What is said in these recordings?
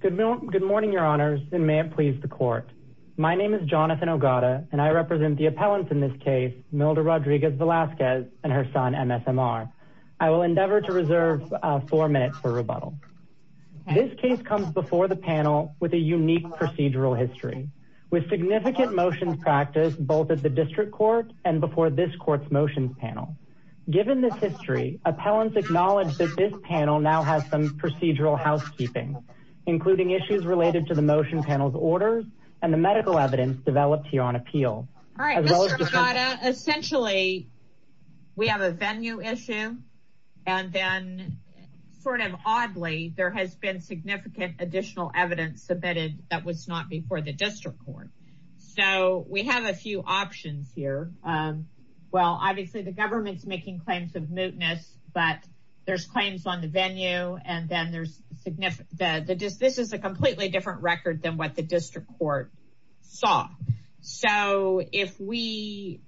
Good morning, your honors, and may it please the court. My name is Jonathan Ogata, and I represent the appellants in this case, Milda Rodriguez Vasquez and her son, M.S.M.R. I will endeavor to reserve four minutes for rebuttal. This case comes before the panel with a unique procedural history, with significant motions practiced both at the district court and before this court's motions panel. Given this history, appellants acknowledge that this panel now has some procedural housekeeping, including issues related to the motion panel's orders and the medical evidence developed here on appeal. All right, Mr. Ogata, essentially, we have a venue issue. And then sort of oddly, there has been significant additional evidence submitted that was not before the district court. So we have a few options here. Well, obviously, the government's making claims of mootness, but there's claims on the venue. And then there's significant that this is a completely different record than what the district court saw. So if we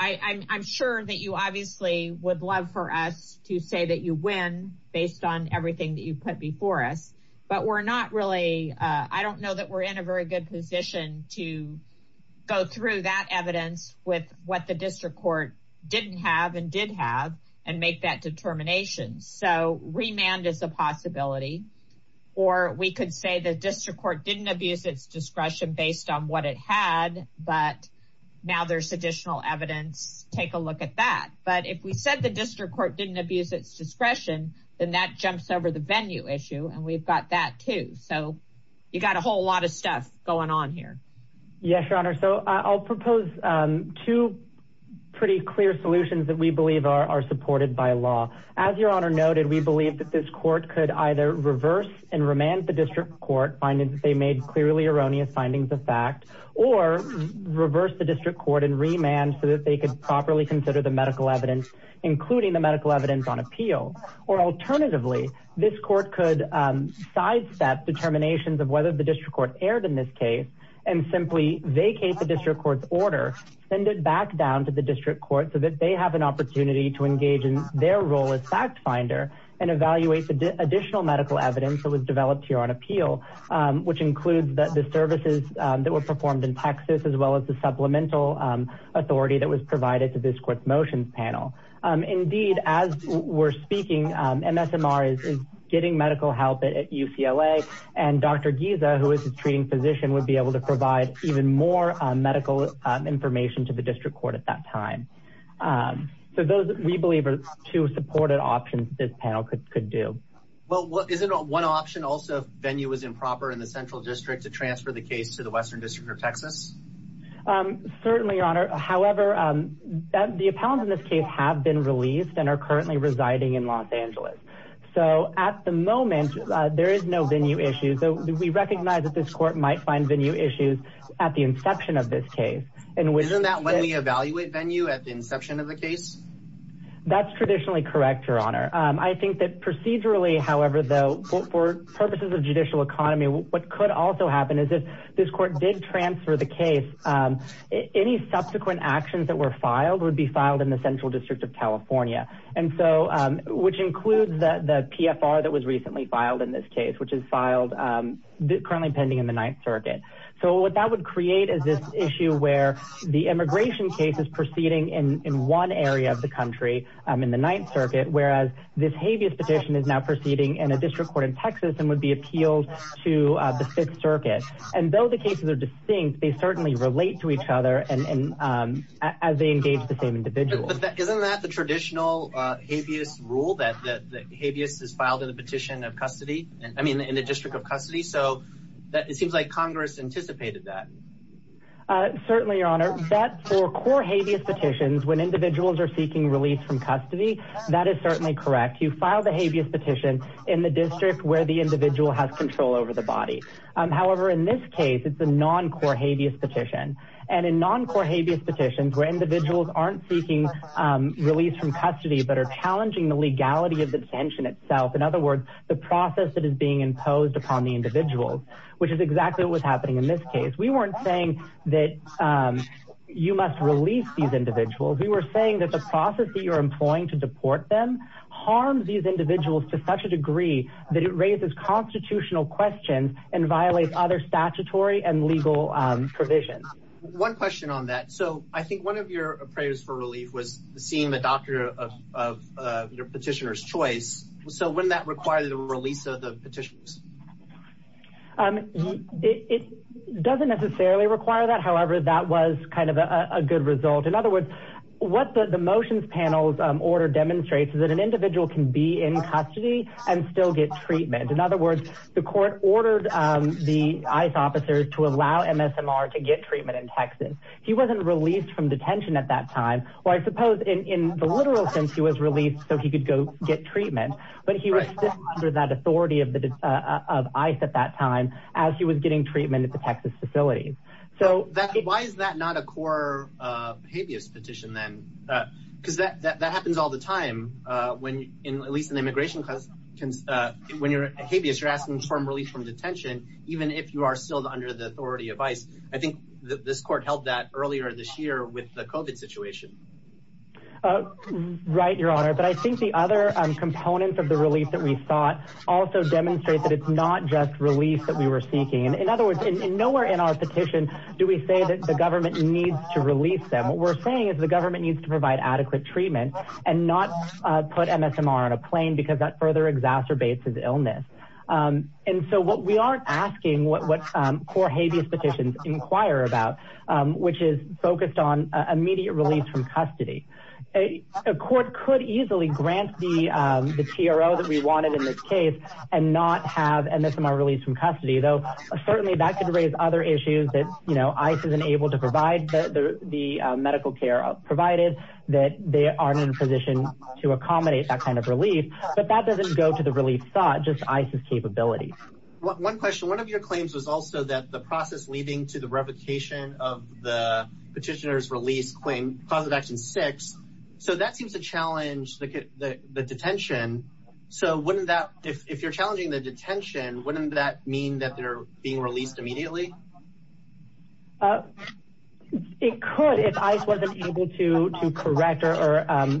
I'm sure that you obviously would love for us to say that you win based on everything that you put before us. But we're not really I don't know that we're in a very good position to go through that evidence with what the district court didn't have and did have and make that determination. So remand is a possibility. Or we could say the district court didn't abuse its discretion based on what it had. But now there's additional evidence. Take a look at that. But if we said the district court didn't abuse its discretion, then that jumps over the venue issue. And we've got that too. So you got a whole lot of stuff going on here. Yes, your honor. So I'll propose two pretty clear solutions that we believe are supported by law. As your honor noted, we believe that this court could either reverse and remand the district court finding that they made clearly erroneous findings of fact or reverse the district court and remand so that they could properly consider the medical evidence, including the medical evidence on appeal. Or alternatively, this court could sidestep determinations of whether the district court erred in this case and simply vacate the district court's order, send it back down to the district court so that they have an opportunity to engage in their role as fact finder and evaluate the additional medical evidence that was developed here on appeal, which includes the services that were performed in Texas, as well as the supplemental authority that was provided to this court motions panel. Indeed, as we're And Dr. Giza, who is a treating physician, would be able to provide even more medical information to the district court at that time. So those we believe are two supported options this panel could could do. Well, is it one option also venue was improper in the central district to transfer the case to the western district of Texas? Certainly, your honor. However, the appellant in this case have been released and are currently residing in Los So at the moment, there is no venue issue. So we recognize that this court might find venue issues at the inception of this case. And wasn't that when we evaluate venue at the inception of the case? That's traditionally correct, your honor. I think that procedurally, however, though, for purposes of judicial economy, what could also happen is if this court did transfer the case, any subsequent actions that were filed would be filed in the central district of California. And so which includes the PFR that was recently filed in this case, which is filed currently pending in the Ninth Circuit. So what that would create is this issue where the immigration case is proceeding in one area of the country in the Ninth Circuit, whereas this habeas petition is now proceeding in a district court in Texas and would be appealed to the Fifth Circuit. And though the cases are distinct, they certainly relate to each other and as they engage the same individual. Isn't that the traditional habeas rule that habeas is filed in the petition of custody? I mean, in the district of custody. So it seems like Congress anticipated that. Certainly, your honor, that for core habeas petitions, when individuals are seeking release from custody, that is certainly correct. You file the habeas petition in the district where the individual has control over the body. However, in this case, it's a non-core habeas petition. And in non-core habeas petitions where individuals aren't seeking release from custody, but are challenging the legality of the detention itself. In other words, the process that is being imposed upon the individuals, which is exactly what's happening in this case. We weren't saying that you must release these individuals. We were saying that the process that you're employing to deport them harms these individuals to such a degree that it raises constitutional questions and violates other statutory and legal provisions. One question on that. So I think one of your prayers for relief was seeing the doctor of your petitioner's choice. So wouldn't that require the release of the petitioners? It doesn't necessarily require that. However, that was kind of a good result. In other words, what the motions panel's order demonstrates is that an individual can be in custody and still get treatment. In other words, the court ordered the ICE officers to allow MSMR to get treatment in Texas. He wasn't released from detention at that time. Well, I suppose in the literal sense, he was released so he could go get treatment. But he was still under that authority of ICE at that time as he was getting treatment at the Texas facilities. So why is that not a core habeas petition then? Because that happens all the time when, at least in the immigration class, when you're a habeas, you're asking for relief from detention, even if you are still under the authority of ICE. I think this court held that earlier this year with the COVID situation. Right, your honor. But I think the other components of the release that we sought also demonstrate that it's not just release that we were seeking. In other words, nowhere in our petition do we say that the government needs to release them. What we're saying is the government needs to provide adequate treatment and not put MSMR on a plane because that further exacerbates his illness. And so we aren't asking what core habeas petitions inquire about, which is focused on immediate release from custody. A court could easily grant the TRO that we wanted in this case and not have MSMR released from custody, though certainly that could raise other issues that, you know, ICE isn't able to provide the medical care provided, that they aren't in a position to accommodate that kind of relief, but that doesn't go to the relief thought, just ICE's capability. One question, one of your claims was also that the process leading to the revocation of the petitioner's release claim, cause of action six. So that seems to challenge the detention. So wouldn't that, if you're being released immediately? It could, if ICE wasn't able to, to correct or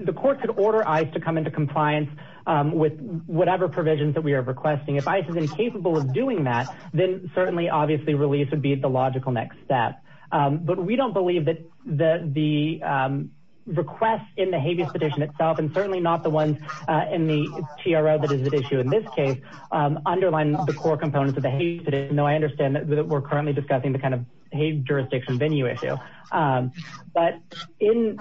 the court could order ICE to come into compliance with whatever provisions that we are requesting. If ICE is incapable of doing that, then certainly obviously release would be the logical next step. But we don't believe that the request in the habeas petition itself, and certainly not the ones in the TRO that is at issue in this case, underline the core components of the habeas petition, though I understand that we're currently discussing the kind of habeas jurisdiction venue issue. But in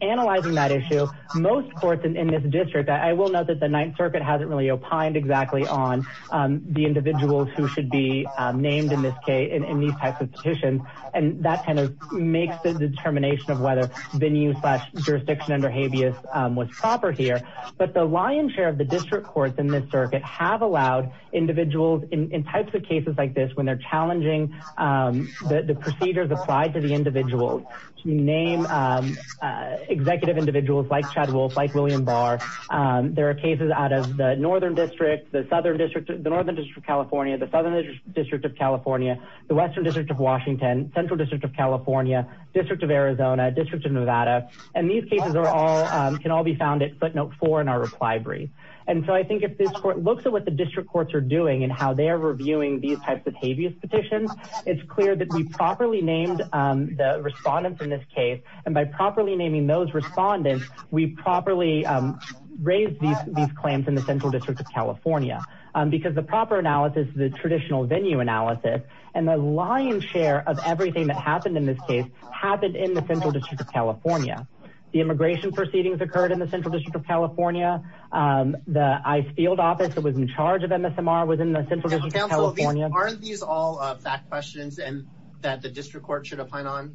analyzing that issue, most courts in this district, I will note that the ninth circuit hasn't really opined exactly on the individuals who should be named in this case, in these types of petitions. And that kind of makes the determination of whether venue slash lion's share of the district courts in this circuit have allowed individuals in types of cases like this, when they're challenging the procedures applied to the individuals, to name executive individuals like Chad Wolf, like William Barr. There are cases out of the Northern District, the Southern District, the Northern District of California, the Southern District of California, the Western District of Washington, Central District of California, District of Arizona, District of Nevada. And these cases are all, can all be found at footnote four in our reply brief. And so I think if this court looks at what the district courts are doing and how they're reviewing these types of habeas petitions, it's clear that we properly named the respondents in this case, and by properly naming those respondents, we properly raised these claims in the Central District of California. Because the proper analysis, the traditional venue analysis, and the lion's share of everything that happened in this case, happened in the Central District of California. The immigration proceedings occurred in the Central District of California. The ICE field office that was in charge of MSMR was in the Central District of California. Counsel, aren't these all fact questions and that the district court should opine on?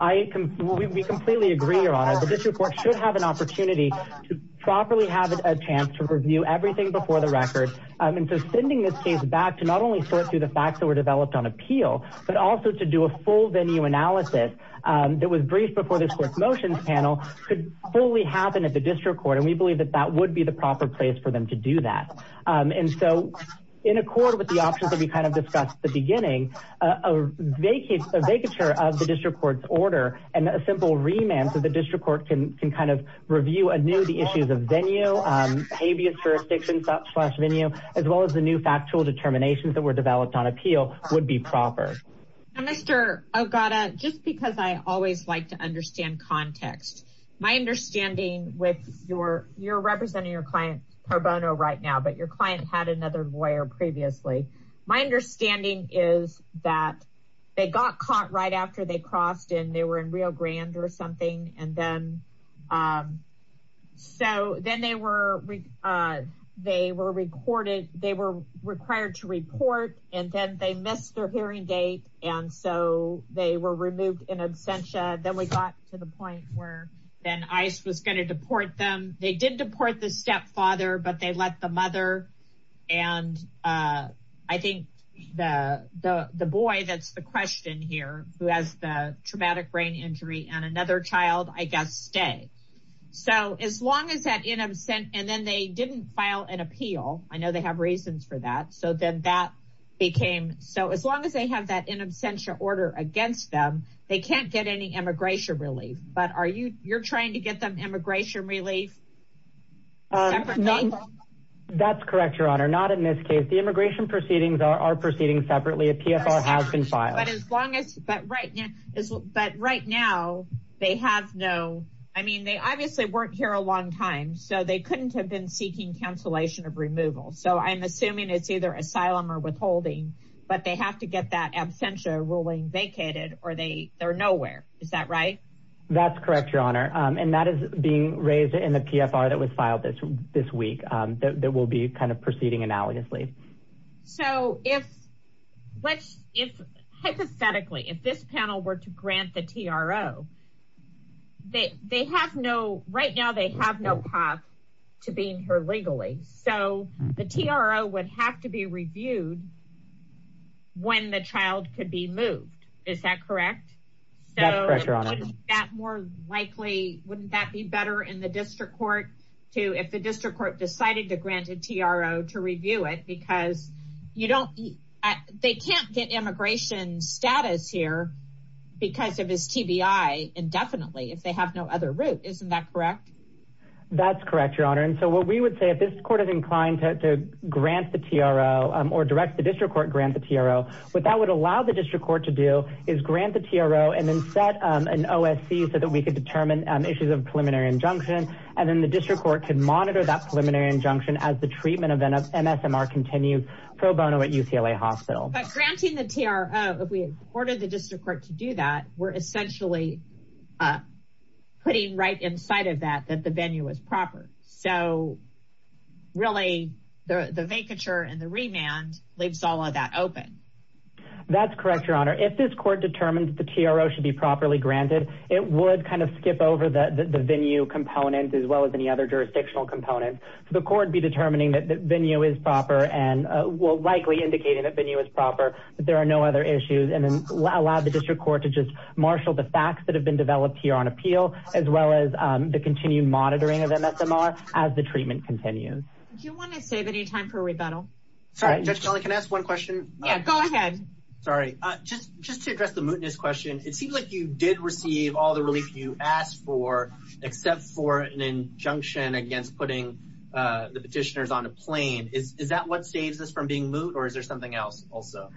I, we completely agree, your honor. The district court should have an opportunity to properly have a chance to review everything before the record. And so sending this case back to not only sort through the facts that were developed on appeal, but also to do a full venue analysis that was briefed before this court's motions panel could fully happen at the district court. And we believe that that would be the proper place for them to do that. And so in accord with the options that we kind of discussed at the beginning, a vacature of the district court's order and a simple remand so the district court can kind of review anew the issues of venue, habeas jurisdictions slash venue, as well as the new factual determinations that were developed on Mr. Ogata, just because I always like to understand context, my understanding with your, you're representing your client pro bono right now, but your client had another lawyer previously. My understanding is that they got caught right after they crossed in, they were in Rio Grande or something. And then, so then they were, they were recorded, they were required to report, and then they missed their hearing date. And so they were removed in absentia. Then we got to the point where then ICE was going to deport them. They did deport the stepfather, but they let the mother and I think the boy, that's the question here, who has the traumatic brain injury and another child, I guess, stay. So as long as that in absent, and then they didn't file an became, so as long as they have that in absentia order against them, they can't get any immigration relief. But are you, you're trying to get them immigration relief? That's correct, Your Honor, not in this case, the immigration proceedings are proceeding separately, a PFR has been filed. But as long as, but right now, but right now, they have no, I mean, they obviously weren't here a long time, so they couldn't have been seeking cancellation of holding. But they have to get that absentia ruling vacated, or they, they're nowhere. Is that right? That's correct, Your Honor. And that is being raised in the PFR that was filed this, this week, that will be kind of proceeding analogously. So if, let's, if, hypothetically, if this panel were to grant the TRO, they, they have no, right now, they have no path to being here legally. So the TRO would have to be reviewed when the child could be moved. Is that correct? That's correct, Your Honor. So wouldn't that more likely, wouldn't that be better in the district court to, if the district court decided to grant a TRO to review it, because you don't, they can't get immigration status here because of his TBI indefinitely, if they have no other route. Isn't that correct? That's correct, Your Honor. And so what we would say, if this court is inclined to grant the TRO or direct the district court grant the TRO, what that would allow the district court to do is grant the TRO and then set an OSC so that we could determine issues of preliminary injunction. And then the district court could monitor that preliminary injunction as the treatment event of MSMR continues pro bono at UCLA hospital. But putting right inside of that, that the venue was proper. So really the vacature and the remand leaves all of that open. That's correct, Your Honor. If this court determines the TRO should be properly granted, it would kind of skip over the venue component as well as any other jurisdictional components. So the court would be determining that the venue is proper and will likely indicating that venue is proper, but there are no other issues and then allow the district to just marshal the facts that have been developed here on appeal, as well as the continued monitoring of MSMR as the treatment continues. Do you want to save any time for rebuttal? Judge Kelly, can I ask one question? Yeah, go ahead. Sorry. Just to address the mootness question, it seems like you did receive all the relief you asked for, except for an injunction against putting the petitioners on a plane. Is that what saves us from being moot or is there something else also?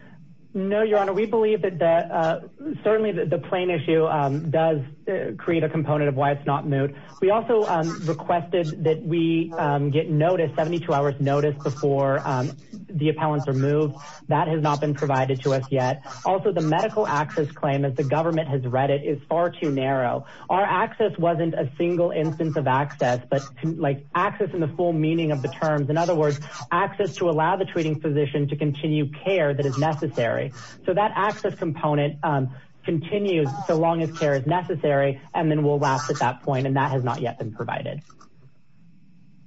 No, Your Honor. We believe that certainly the plane issue does create a component of why it's not moot. We also requested that we get notice, 72 hours notice before the appellants are moved. That has not been provided to us yet. Also the medical access claim as the government has read it is far too narrow. Our access wasn't a single instance of access, but like access in the full meaning of the terms. In other words, access to allow the physician to continue care that is necessary. So that access component continues so long as care is necessary and then we'll last at that point and that has not yet been provided.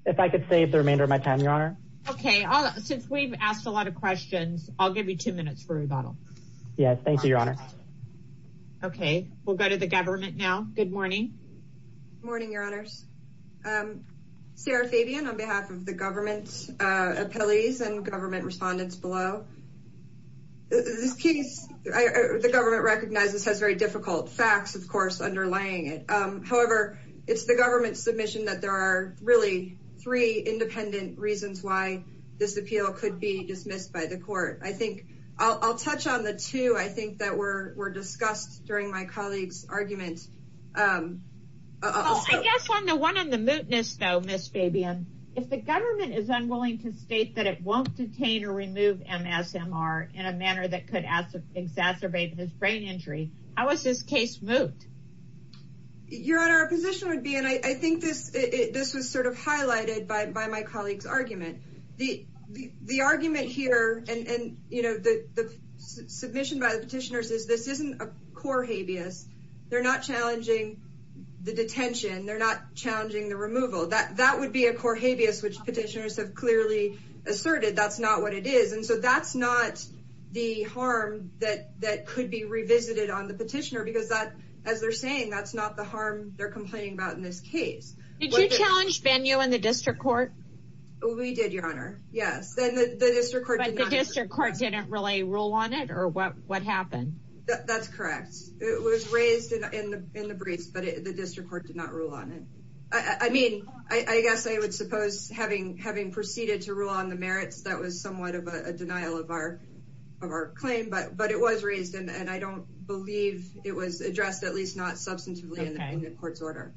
If I could save the remainder of my time, Your Honor. Okay, since we've asked a lot of questions, I'll give you two minutes for rebuttal. Yes, thank you, Your Honor. Okay, we'll go to the government now. Good morning. Morning, Your Honors. Sarah Fabian on behalf of the government appellees and government respondents below. This case, the government recognizes has very difficult facts, of course, underlying it. However, it's the government submission that there are really three independent reasons why this appeal could be dismissed by the court. I think I'll touch on the two, I think that were discussed during my colleague's argument. I guess on the one on the mootness, though, Ms. Fabian, if the government is unwilling to state that it won't detain or remove MSMR in a manner that could exacerbate his brain injury, how is this case moot? Your Honor, our position would be, and I think this was sort of highlighted by my colleague's argument, the argument here and the submission by the petitioners is this isn't a the detention. They're not challenging the removal. That would be a core habeas, which petitioners have clearly asserted. That's not what it is. And so that's not the harm that could be revisited on the petitioner because that, as they're saying, that's not the harm they're complaining about in this case. Did you challenge Bennu in the district court? We did, Your Honor. Yes. But the district court didn't really rule on it or what happened? That's correct. It was raised in the briefs, but the district court did not rule on it. I mean, I guess I would suppose having proceeded to rule on the merits, that was somewhat of a denial of our claim, but it was raised and I don't believe it was addressed, at least not substantively in the court's order.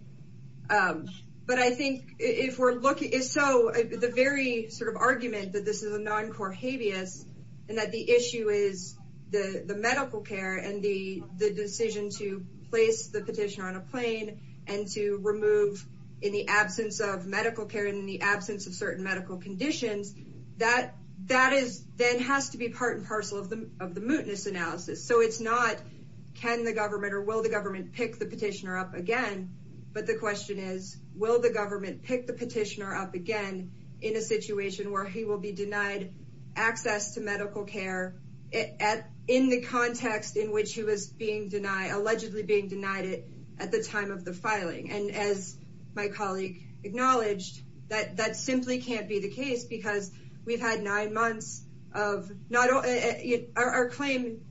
But I think if we're looking, so the very sort of argument that this is a non-core habeas and that the issue is the medical care and the decision to place the petitioner on a plane and to remove in the absence of medical care and in the absence of certain medical conditions, that then has to be part and parcel of the mootness analysis. So it's not can the government or will the government pick the petitioner up again, but the question is will the government pick the petitioner up again in a situation where he will be denied access to medical care in the context in which he was allegedly being denied it at the time of the filing. And as my colleague acknowledged, that simply can't be the case because we've had nine months of not only our claim,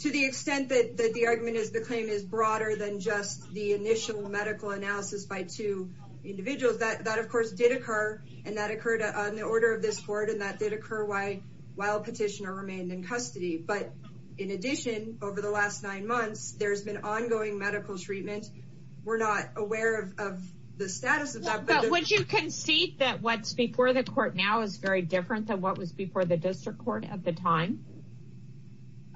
to the extent that the argument is the claim is broader than just the initial medical analysis by two individuals. That of course did occur and that occurred on the order of this court and that did occur while petitioner remained in custody. But in addition, over the last nine months, there's been ongoing medical treatment. We're not aware of the status of that. But would you concede that what's before the court now is very different than what was before the district court at the time?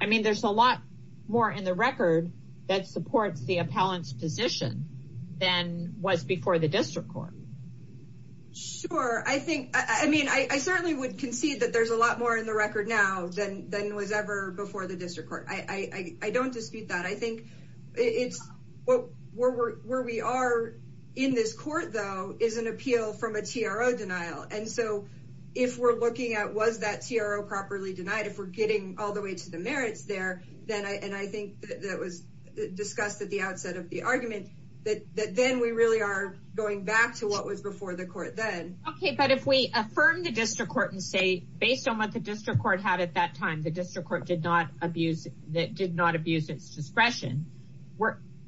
I mean there's a lot more in the record that supports the appellant's position than was before the district court. Sure, I think I mean I certainly would concede that there's a lot more in the record now than than was ever before the district court. I don't dispute that. I think it's what where we are in this court though is an appeal from a TRO denial. And so if we're looking at was that TRO properly denied, if we're getting all the way to the merits there, then I and I think that was discussed at the outset of the argument, that then we really are going back to what was before the court then. Okay, but if we affirm the district court and say based on what the district court had at that time, the district court did not abuse that did not abuse its discretion.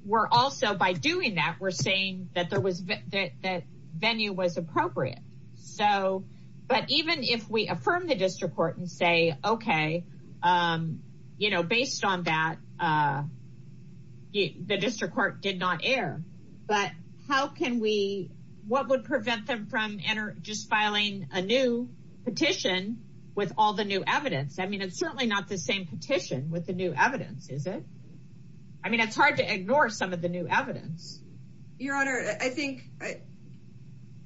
We're also by doing that we're saying that there was that venue was appropriate. So but even if we affirm the district court and say okay you know based on that the district court did not err. But how can we what would prevent them from enter just filing a new petition with all the new evidence? I mean it's certainly not the same petition with the new evidence is it? I mean it's hard to ignore some of the new evidence. Your honor, I think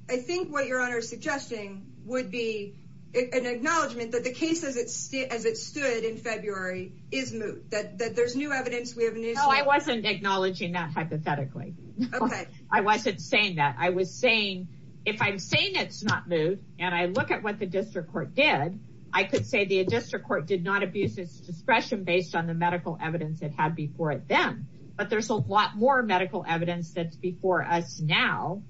I think what your honor is suggesting would be an acknowledgement that the case as it stood in February is moot. That there's new evidence we have no I wasn't acknowledging that hypothetically. Okay I wasn't saying that. I was saying if I'm saying it's not moot and I look at what the district court did, I could say the district court did not abuse its discretion based on the medical evidence it had before it then. But there's a lot more medical evidence that's before us now.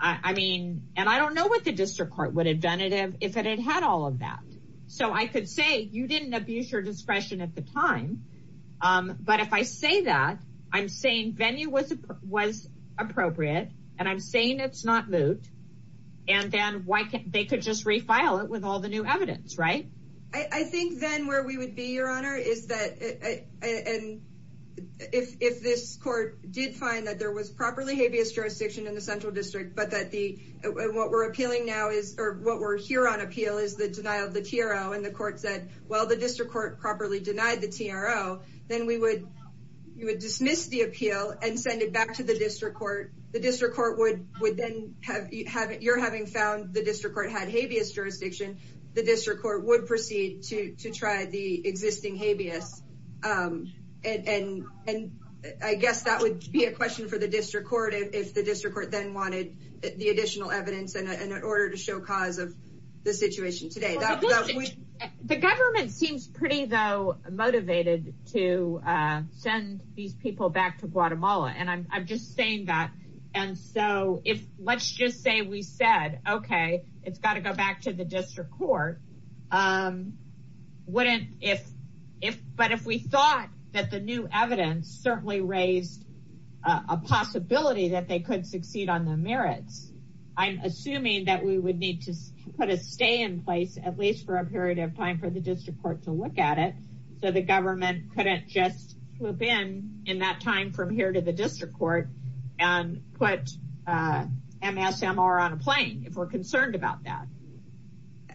I mean and I don't know what the district court would have done if it had had all of that. So I could say you didn't abuse your discretion at the time. But if I say that I'm saying venue was appropriate and I'm saying it's not moot. And then why can't they could just refile it with all the new evidence right? I think then where we would be your honor is that and if this court did find that there was properly habeas jurisdiction in the central district but what we're appealing now is or what we're here on appeal is the denial of the TRO. And the court said well the district court properly denied the TRO. Then we would you would dismiss the appeal and send it back to the district court. The district court would would then have you're having found the district court had habeas jurisdiction. The district court would proceed to to try the existing habeas. And I guess that would be a question for the district court if the district court then wanted the additional evidence and in order to show cause of the situation today. The government seems pretty though motivated to send these people back to Guatemala. And I'm just saying that and so if let's just say we said okay it's got to go back to the district court. Wouldn't if if but if we thought that the new evidence certainly raised a possibility that they could succeed on the merits. I'm assuming that we would need to put a stay in place at least for a period of time for the district court to look at it. So the government couldn't just flip in in that time from here to the district court and put MSMR on a plane if we're concerned about that.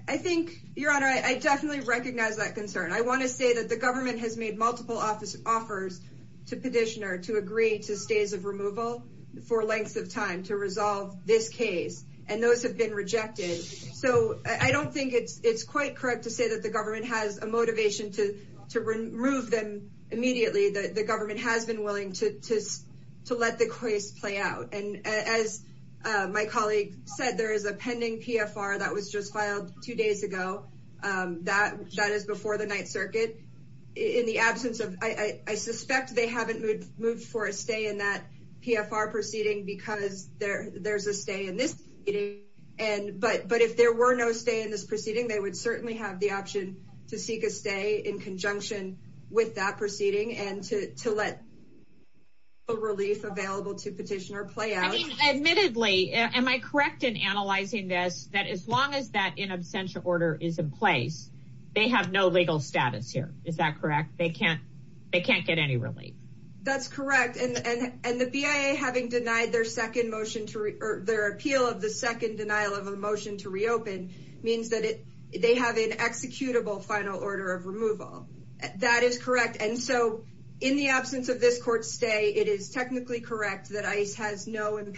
I think your honor I definitely recognize that concern. I want to say that the government has multiple office offers to petitioner to agree to stays of removal for lengths of time to resolve this case. And those have been rejected. So I don't think it's it's quite correct to say that the government has a motivation to to remove them immediately. The government has been willing to to let the case play out. And as my colleague said there is a pending PFR that was just filed two days ago. That that is before the ninth circuit in the absence of I suspect they haven't moved for a stay in that PFR proceeding because there there's a stay in this. And but but if there were no stay in this proceeding they would certainly have the option to seek a stay in conjunction with that proceeding and to to let a relief available to petitioner play out. I mean place they have no legal status here. Is that correct? They can't they can't get any relief. That's correct. And and and the BIA having denied their second motion to their appeal of the second denial of a motion to reopen means that it they have an executable final order of removal. That is correct. And so in the absence of this court stay it is technically correct that ICE has no in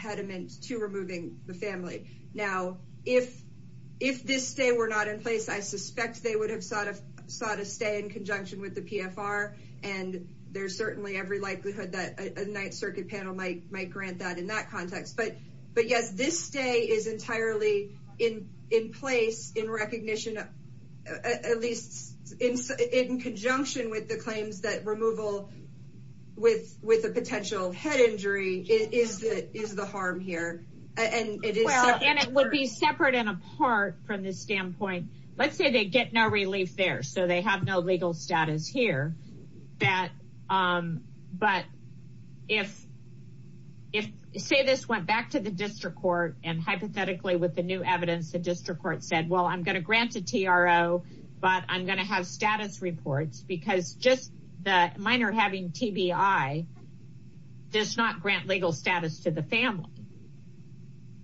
place. I suspect they would have sought a sought a stay in conjunction with the PFR. And there's certainly every likelihood that a ninth circuit panel might might grant that in that context. But but yes this stay is entirely in in place in recognition of at least in in conjunction with the claims that removal with with a potential head injury is that is the harm here. And it is and it would be separate and apart from this standpoint. Let's say they get no relief there so they have no legal status here that but if if say this went back to the district court and hypothetically with the new evidence the district court said well I'm going to grant a TRO but I'm going to have status reports because just the minor having TBI does not grant legal status to the family.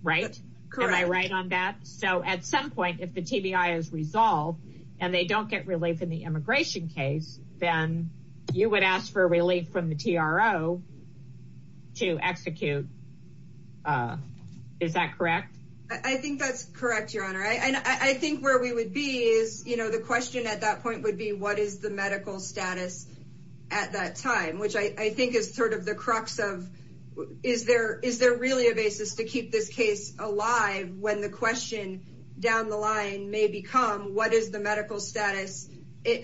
Right? Correct. Am I right on that? So at some point if the TBI is resolved and they don't get relief in the immigration case then you would ask for relief from the TRO to execute. Is that correct? I think that's correct your honor and I think where we would be is you know the question at that point would be what is the medical status at that time which I think is sort of the crux of is there is there really a basis to keep this case alive when the question down the line may become what is the medical status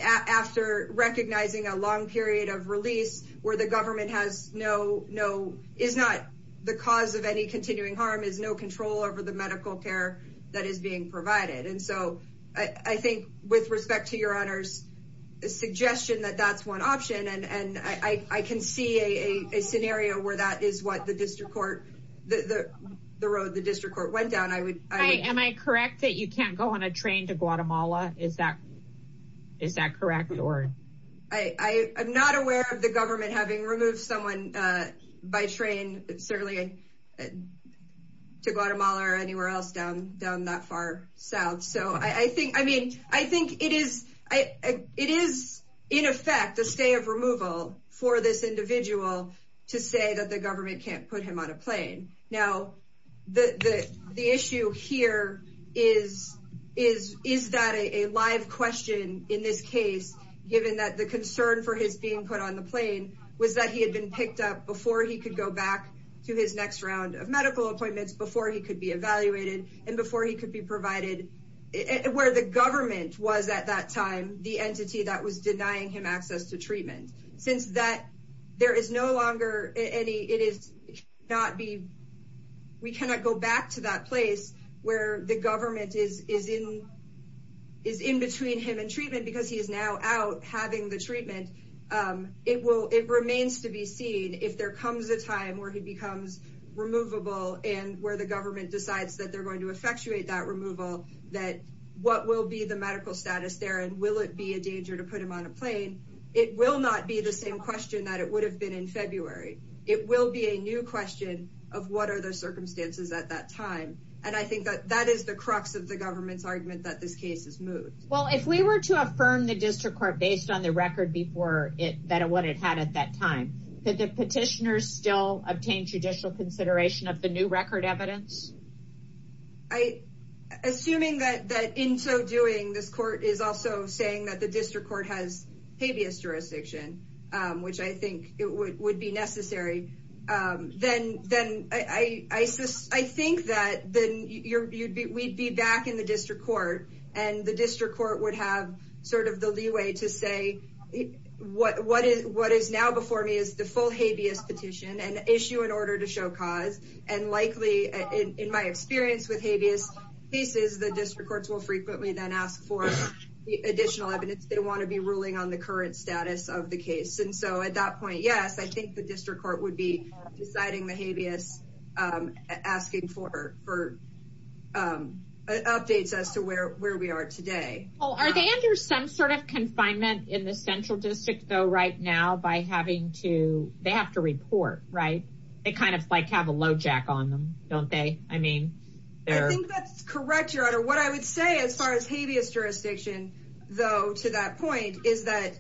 after recognizing a long period of release where the government has no no is not the cause of any continuing harm is no control over the medical care that is being provided. And so I think with a scenario where that is what the district court the the road the district court went down I would I am I correct that you can't go on a train to Guatemala? Is that is that correct? I'm not aware of the government having removed someone by train certainly to Guatemala or anywhere else down that far south. So I think I mean I think it is I it is in effect a stay of removal for this individual to say that the government can't put him on a plane. Now the the the issue here is is is that a live question in this case given that the concern for his being put on the plane was that he had been picked up before he could go back to his next round of medical appointments before he could be evaluated and before he could be provided where the government was at that time the entity that was denying him access to treatment. Since that there is no longer any it is not be we cannot go back to that place where the government is is in is in between him and treatment because he is now out having the treatment. It will it remains to be seen if there comes a time where he becomes removable and where the government decides that they're going to effectuate that removal that what will be the medical status there and will it be a danger to put him on a plane. It will not be the same question that it would have been in February. It will be a new question of what are the circumstances at that time and I think that that is the crux of the government's argument that this case is moved. Well if we were to affirm the petitioners still obtain judicial consideration of the new record evidence. I assuming that that in so doing this court is also saying that the district court has habeas jurisdiction which I think it would be necessary then I think that then you'd be we'd be back in the district court and the district court would have sort of the habeas petition and issue an order to show cause and likely in my experience with habeas cases the district courts will frequently then ask for the additional evidence they want to be ruling on the current status of the case and so at that point yes I think the district court would be deciding the habeas asking for for updates as to where where we are today. Oh are they under some sort of confinement in the central district though right now by having to they have to report right they kind of like have a lojack on them don't they I mean I think that's correct your honor what I would say as far as habeas jurisdiction though to that point is that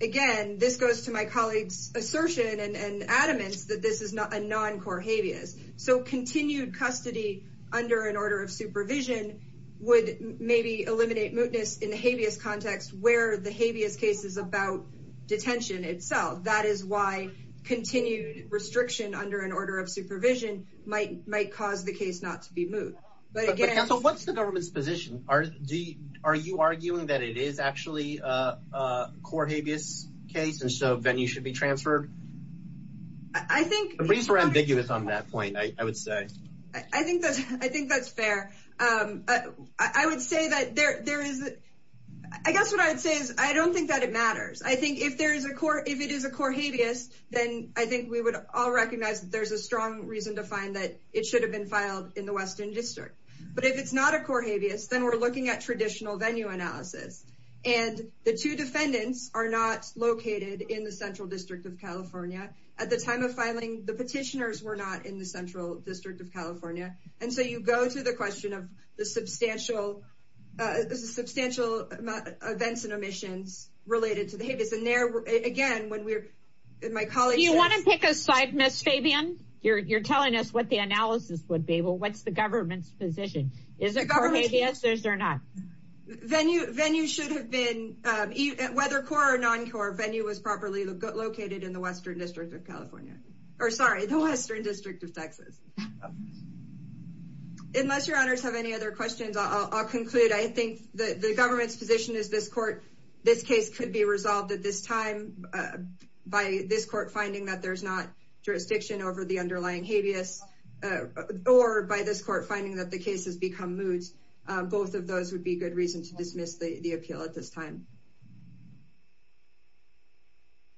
again this goes to my colleagues assertion and adamance that this is not a non-core habeas so continued custody under an order of supervision would maybe eliminate mootness in the habeas context where the habeas case is about detention itself that is why continued restriction under an order of supervision might might cause the case not to be moved but again so what's the government's position are do you are you arguing that it is actually a core habeas case and so then you should be transferred I think at least we're ambiguous on that point I would say I think that's I think that's fair um I would say that there there is I guess what I would say is I don't think that it matters I think if there is a court if it is a core habeas then I think we would all recognize that there's a strong reason to find that it should have been filed in the western district but if it's not a core habeas then we're looking at traditional venue analysis and the two defendants are not located in the central district of california at the time of filing the petitioners were not in the central district of california and so you go to the question of the substantial uh substantial events and omissions related to the habeas and there again when we're in my colleagues you want to pick a side miss fabian you're you're telling us what the analysis would be well what's the government's position is it core habeas or is there not venue venue should have been um whether core or non-core venue was properly located in the western district of california or sorry the western district of texas unless your honors have any other questions i'll conclude i think that the government's position is this court this case could be resolved at this time by this court finding that there's not jurisdiction over the underlying habeas or by this court finding that the case has become moot both of those would be good reason to dismiss the appeal at this time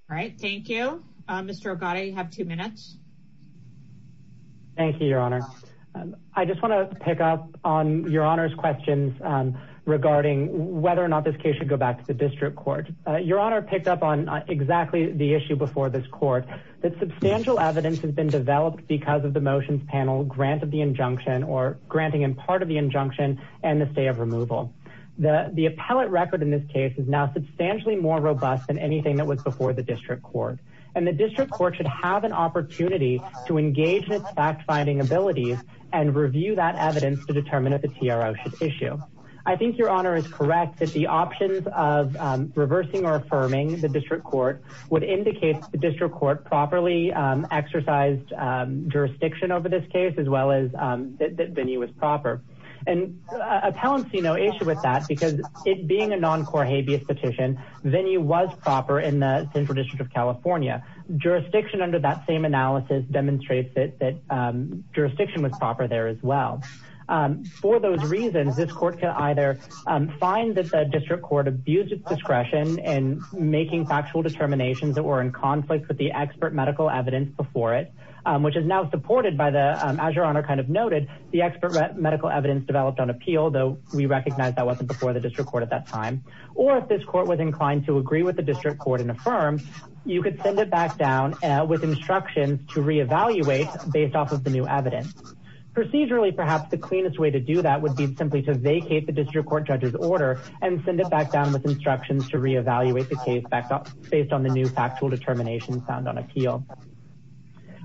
all right thank you uh mr ogata you have two minutes thank you your honor i just want to pick up on your honor's questions regarding whether or not this case should go back to the district court your honor picked up on exactly the issue before this court that substantial evidence has been developed because of the motions panel grant of injunction or granting in part of the injunction and the stay of removal the the appellate record in this case is now substantially more robust than anything that was before the district court and the district court should have an opportunity to engage in fact-finding abilities and review that evidence to determine if the trou should issue i think your honor is correct that the options of reversing or affirming the district court would indicate the district court properly exercised jurisdiction over this case as well as that venue was proper and appellancy no issue with that because it being a non-core habeas petition venue was proper in the central district of california jurisdiction under that same analysis demonstrates that that jurisdiction was proper there as well for those reasons this court can either find that the district court abused its discretion in making factual determinations that were in conflict with the expert medical evidence before it which is now supported by the as your honor kind of noted the expert medical evidence developed on appeal though we recognize that wasn't before the district court at that time or if this court was inclined to agree with the district court and affirm you could send it back down with instructions to re-evaluate based off of the new evidence procedurally perhaps the cleanest way to do that would be simply to vacate the district court judge's order and send it back down with instructions to re-evaluate the case back based on the new factual determination found on appeal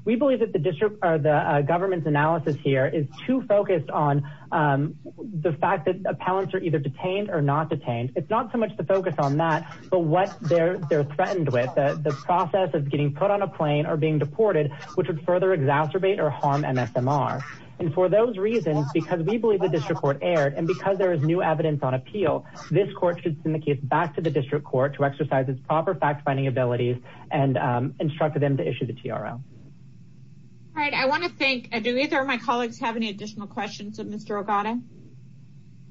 we believe that the district or the government's analysis here is too focused on the fact that appellants are either detained or not detained it's not so much the focus on that but what they're they're threatened with the process of getting put on a plane or being deported which would further exacerbate or harm msmr and for those reasons because we believe the district court aired and because there is new on appeal this court should send the case back to the district court to exercise its proper fact-finding abilities and instruct them to issue the trou all right i want to thank do either of my colleagues have any additional questions of mr ogata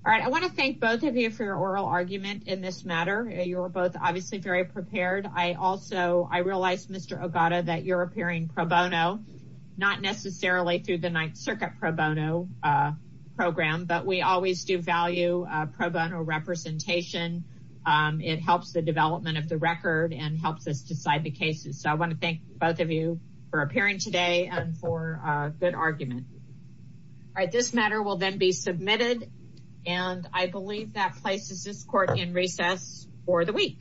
all right i want to thank both of you for your oral argument in this matter you were both obviously very prepared i also i realized mr ogata that you're appearing pro bono not necessarily through the ninth circuit pro bono uh we always do value uh pro bono representation um it helps the development of the record and helps us decide the cases so i want to thank both of you for appearing today and for a good argument all right this matter will then be submitted and i believe that places this court in recess for the week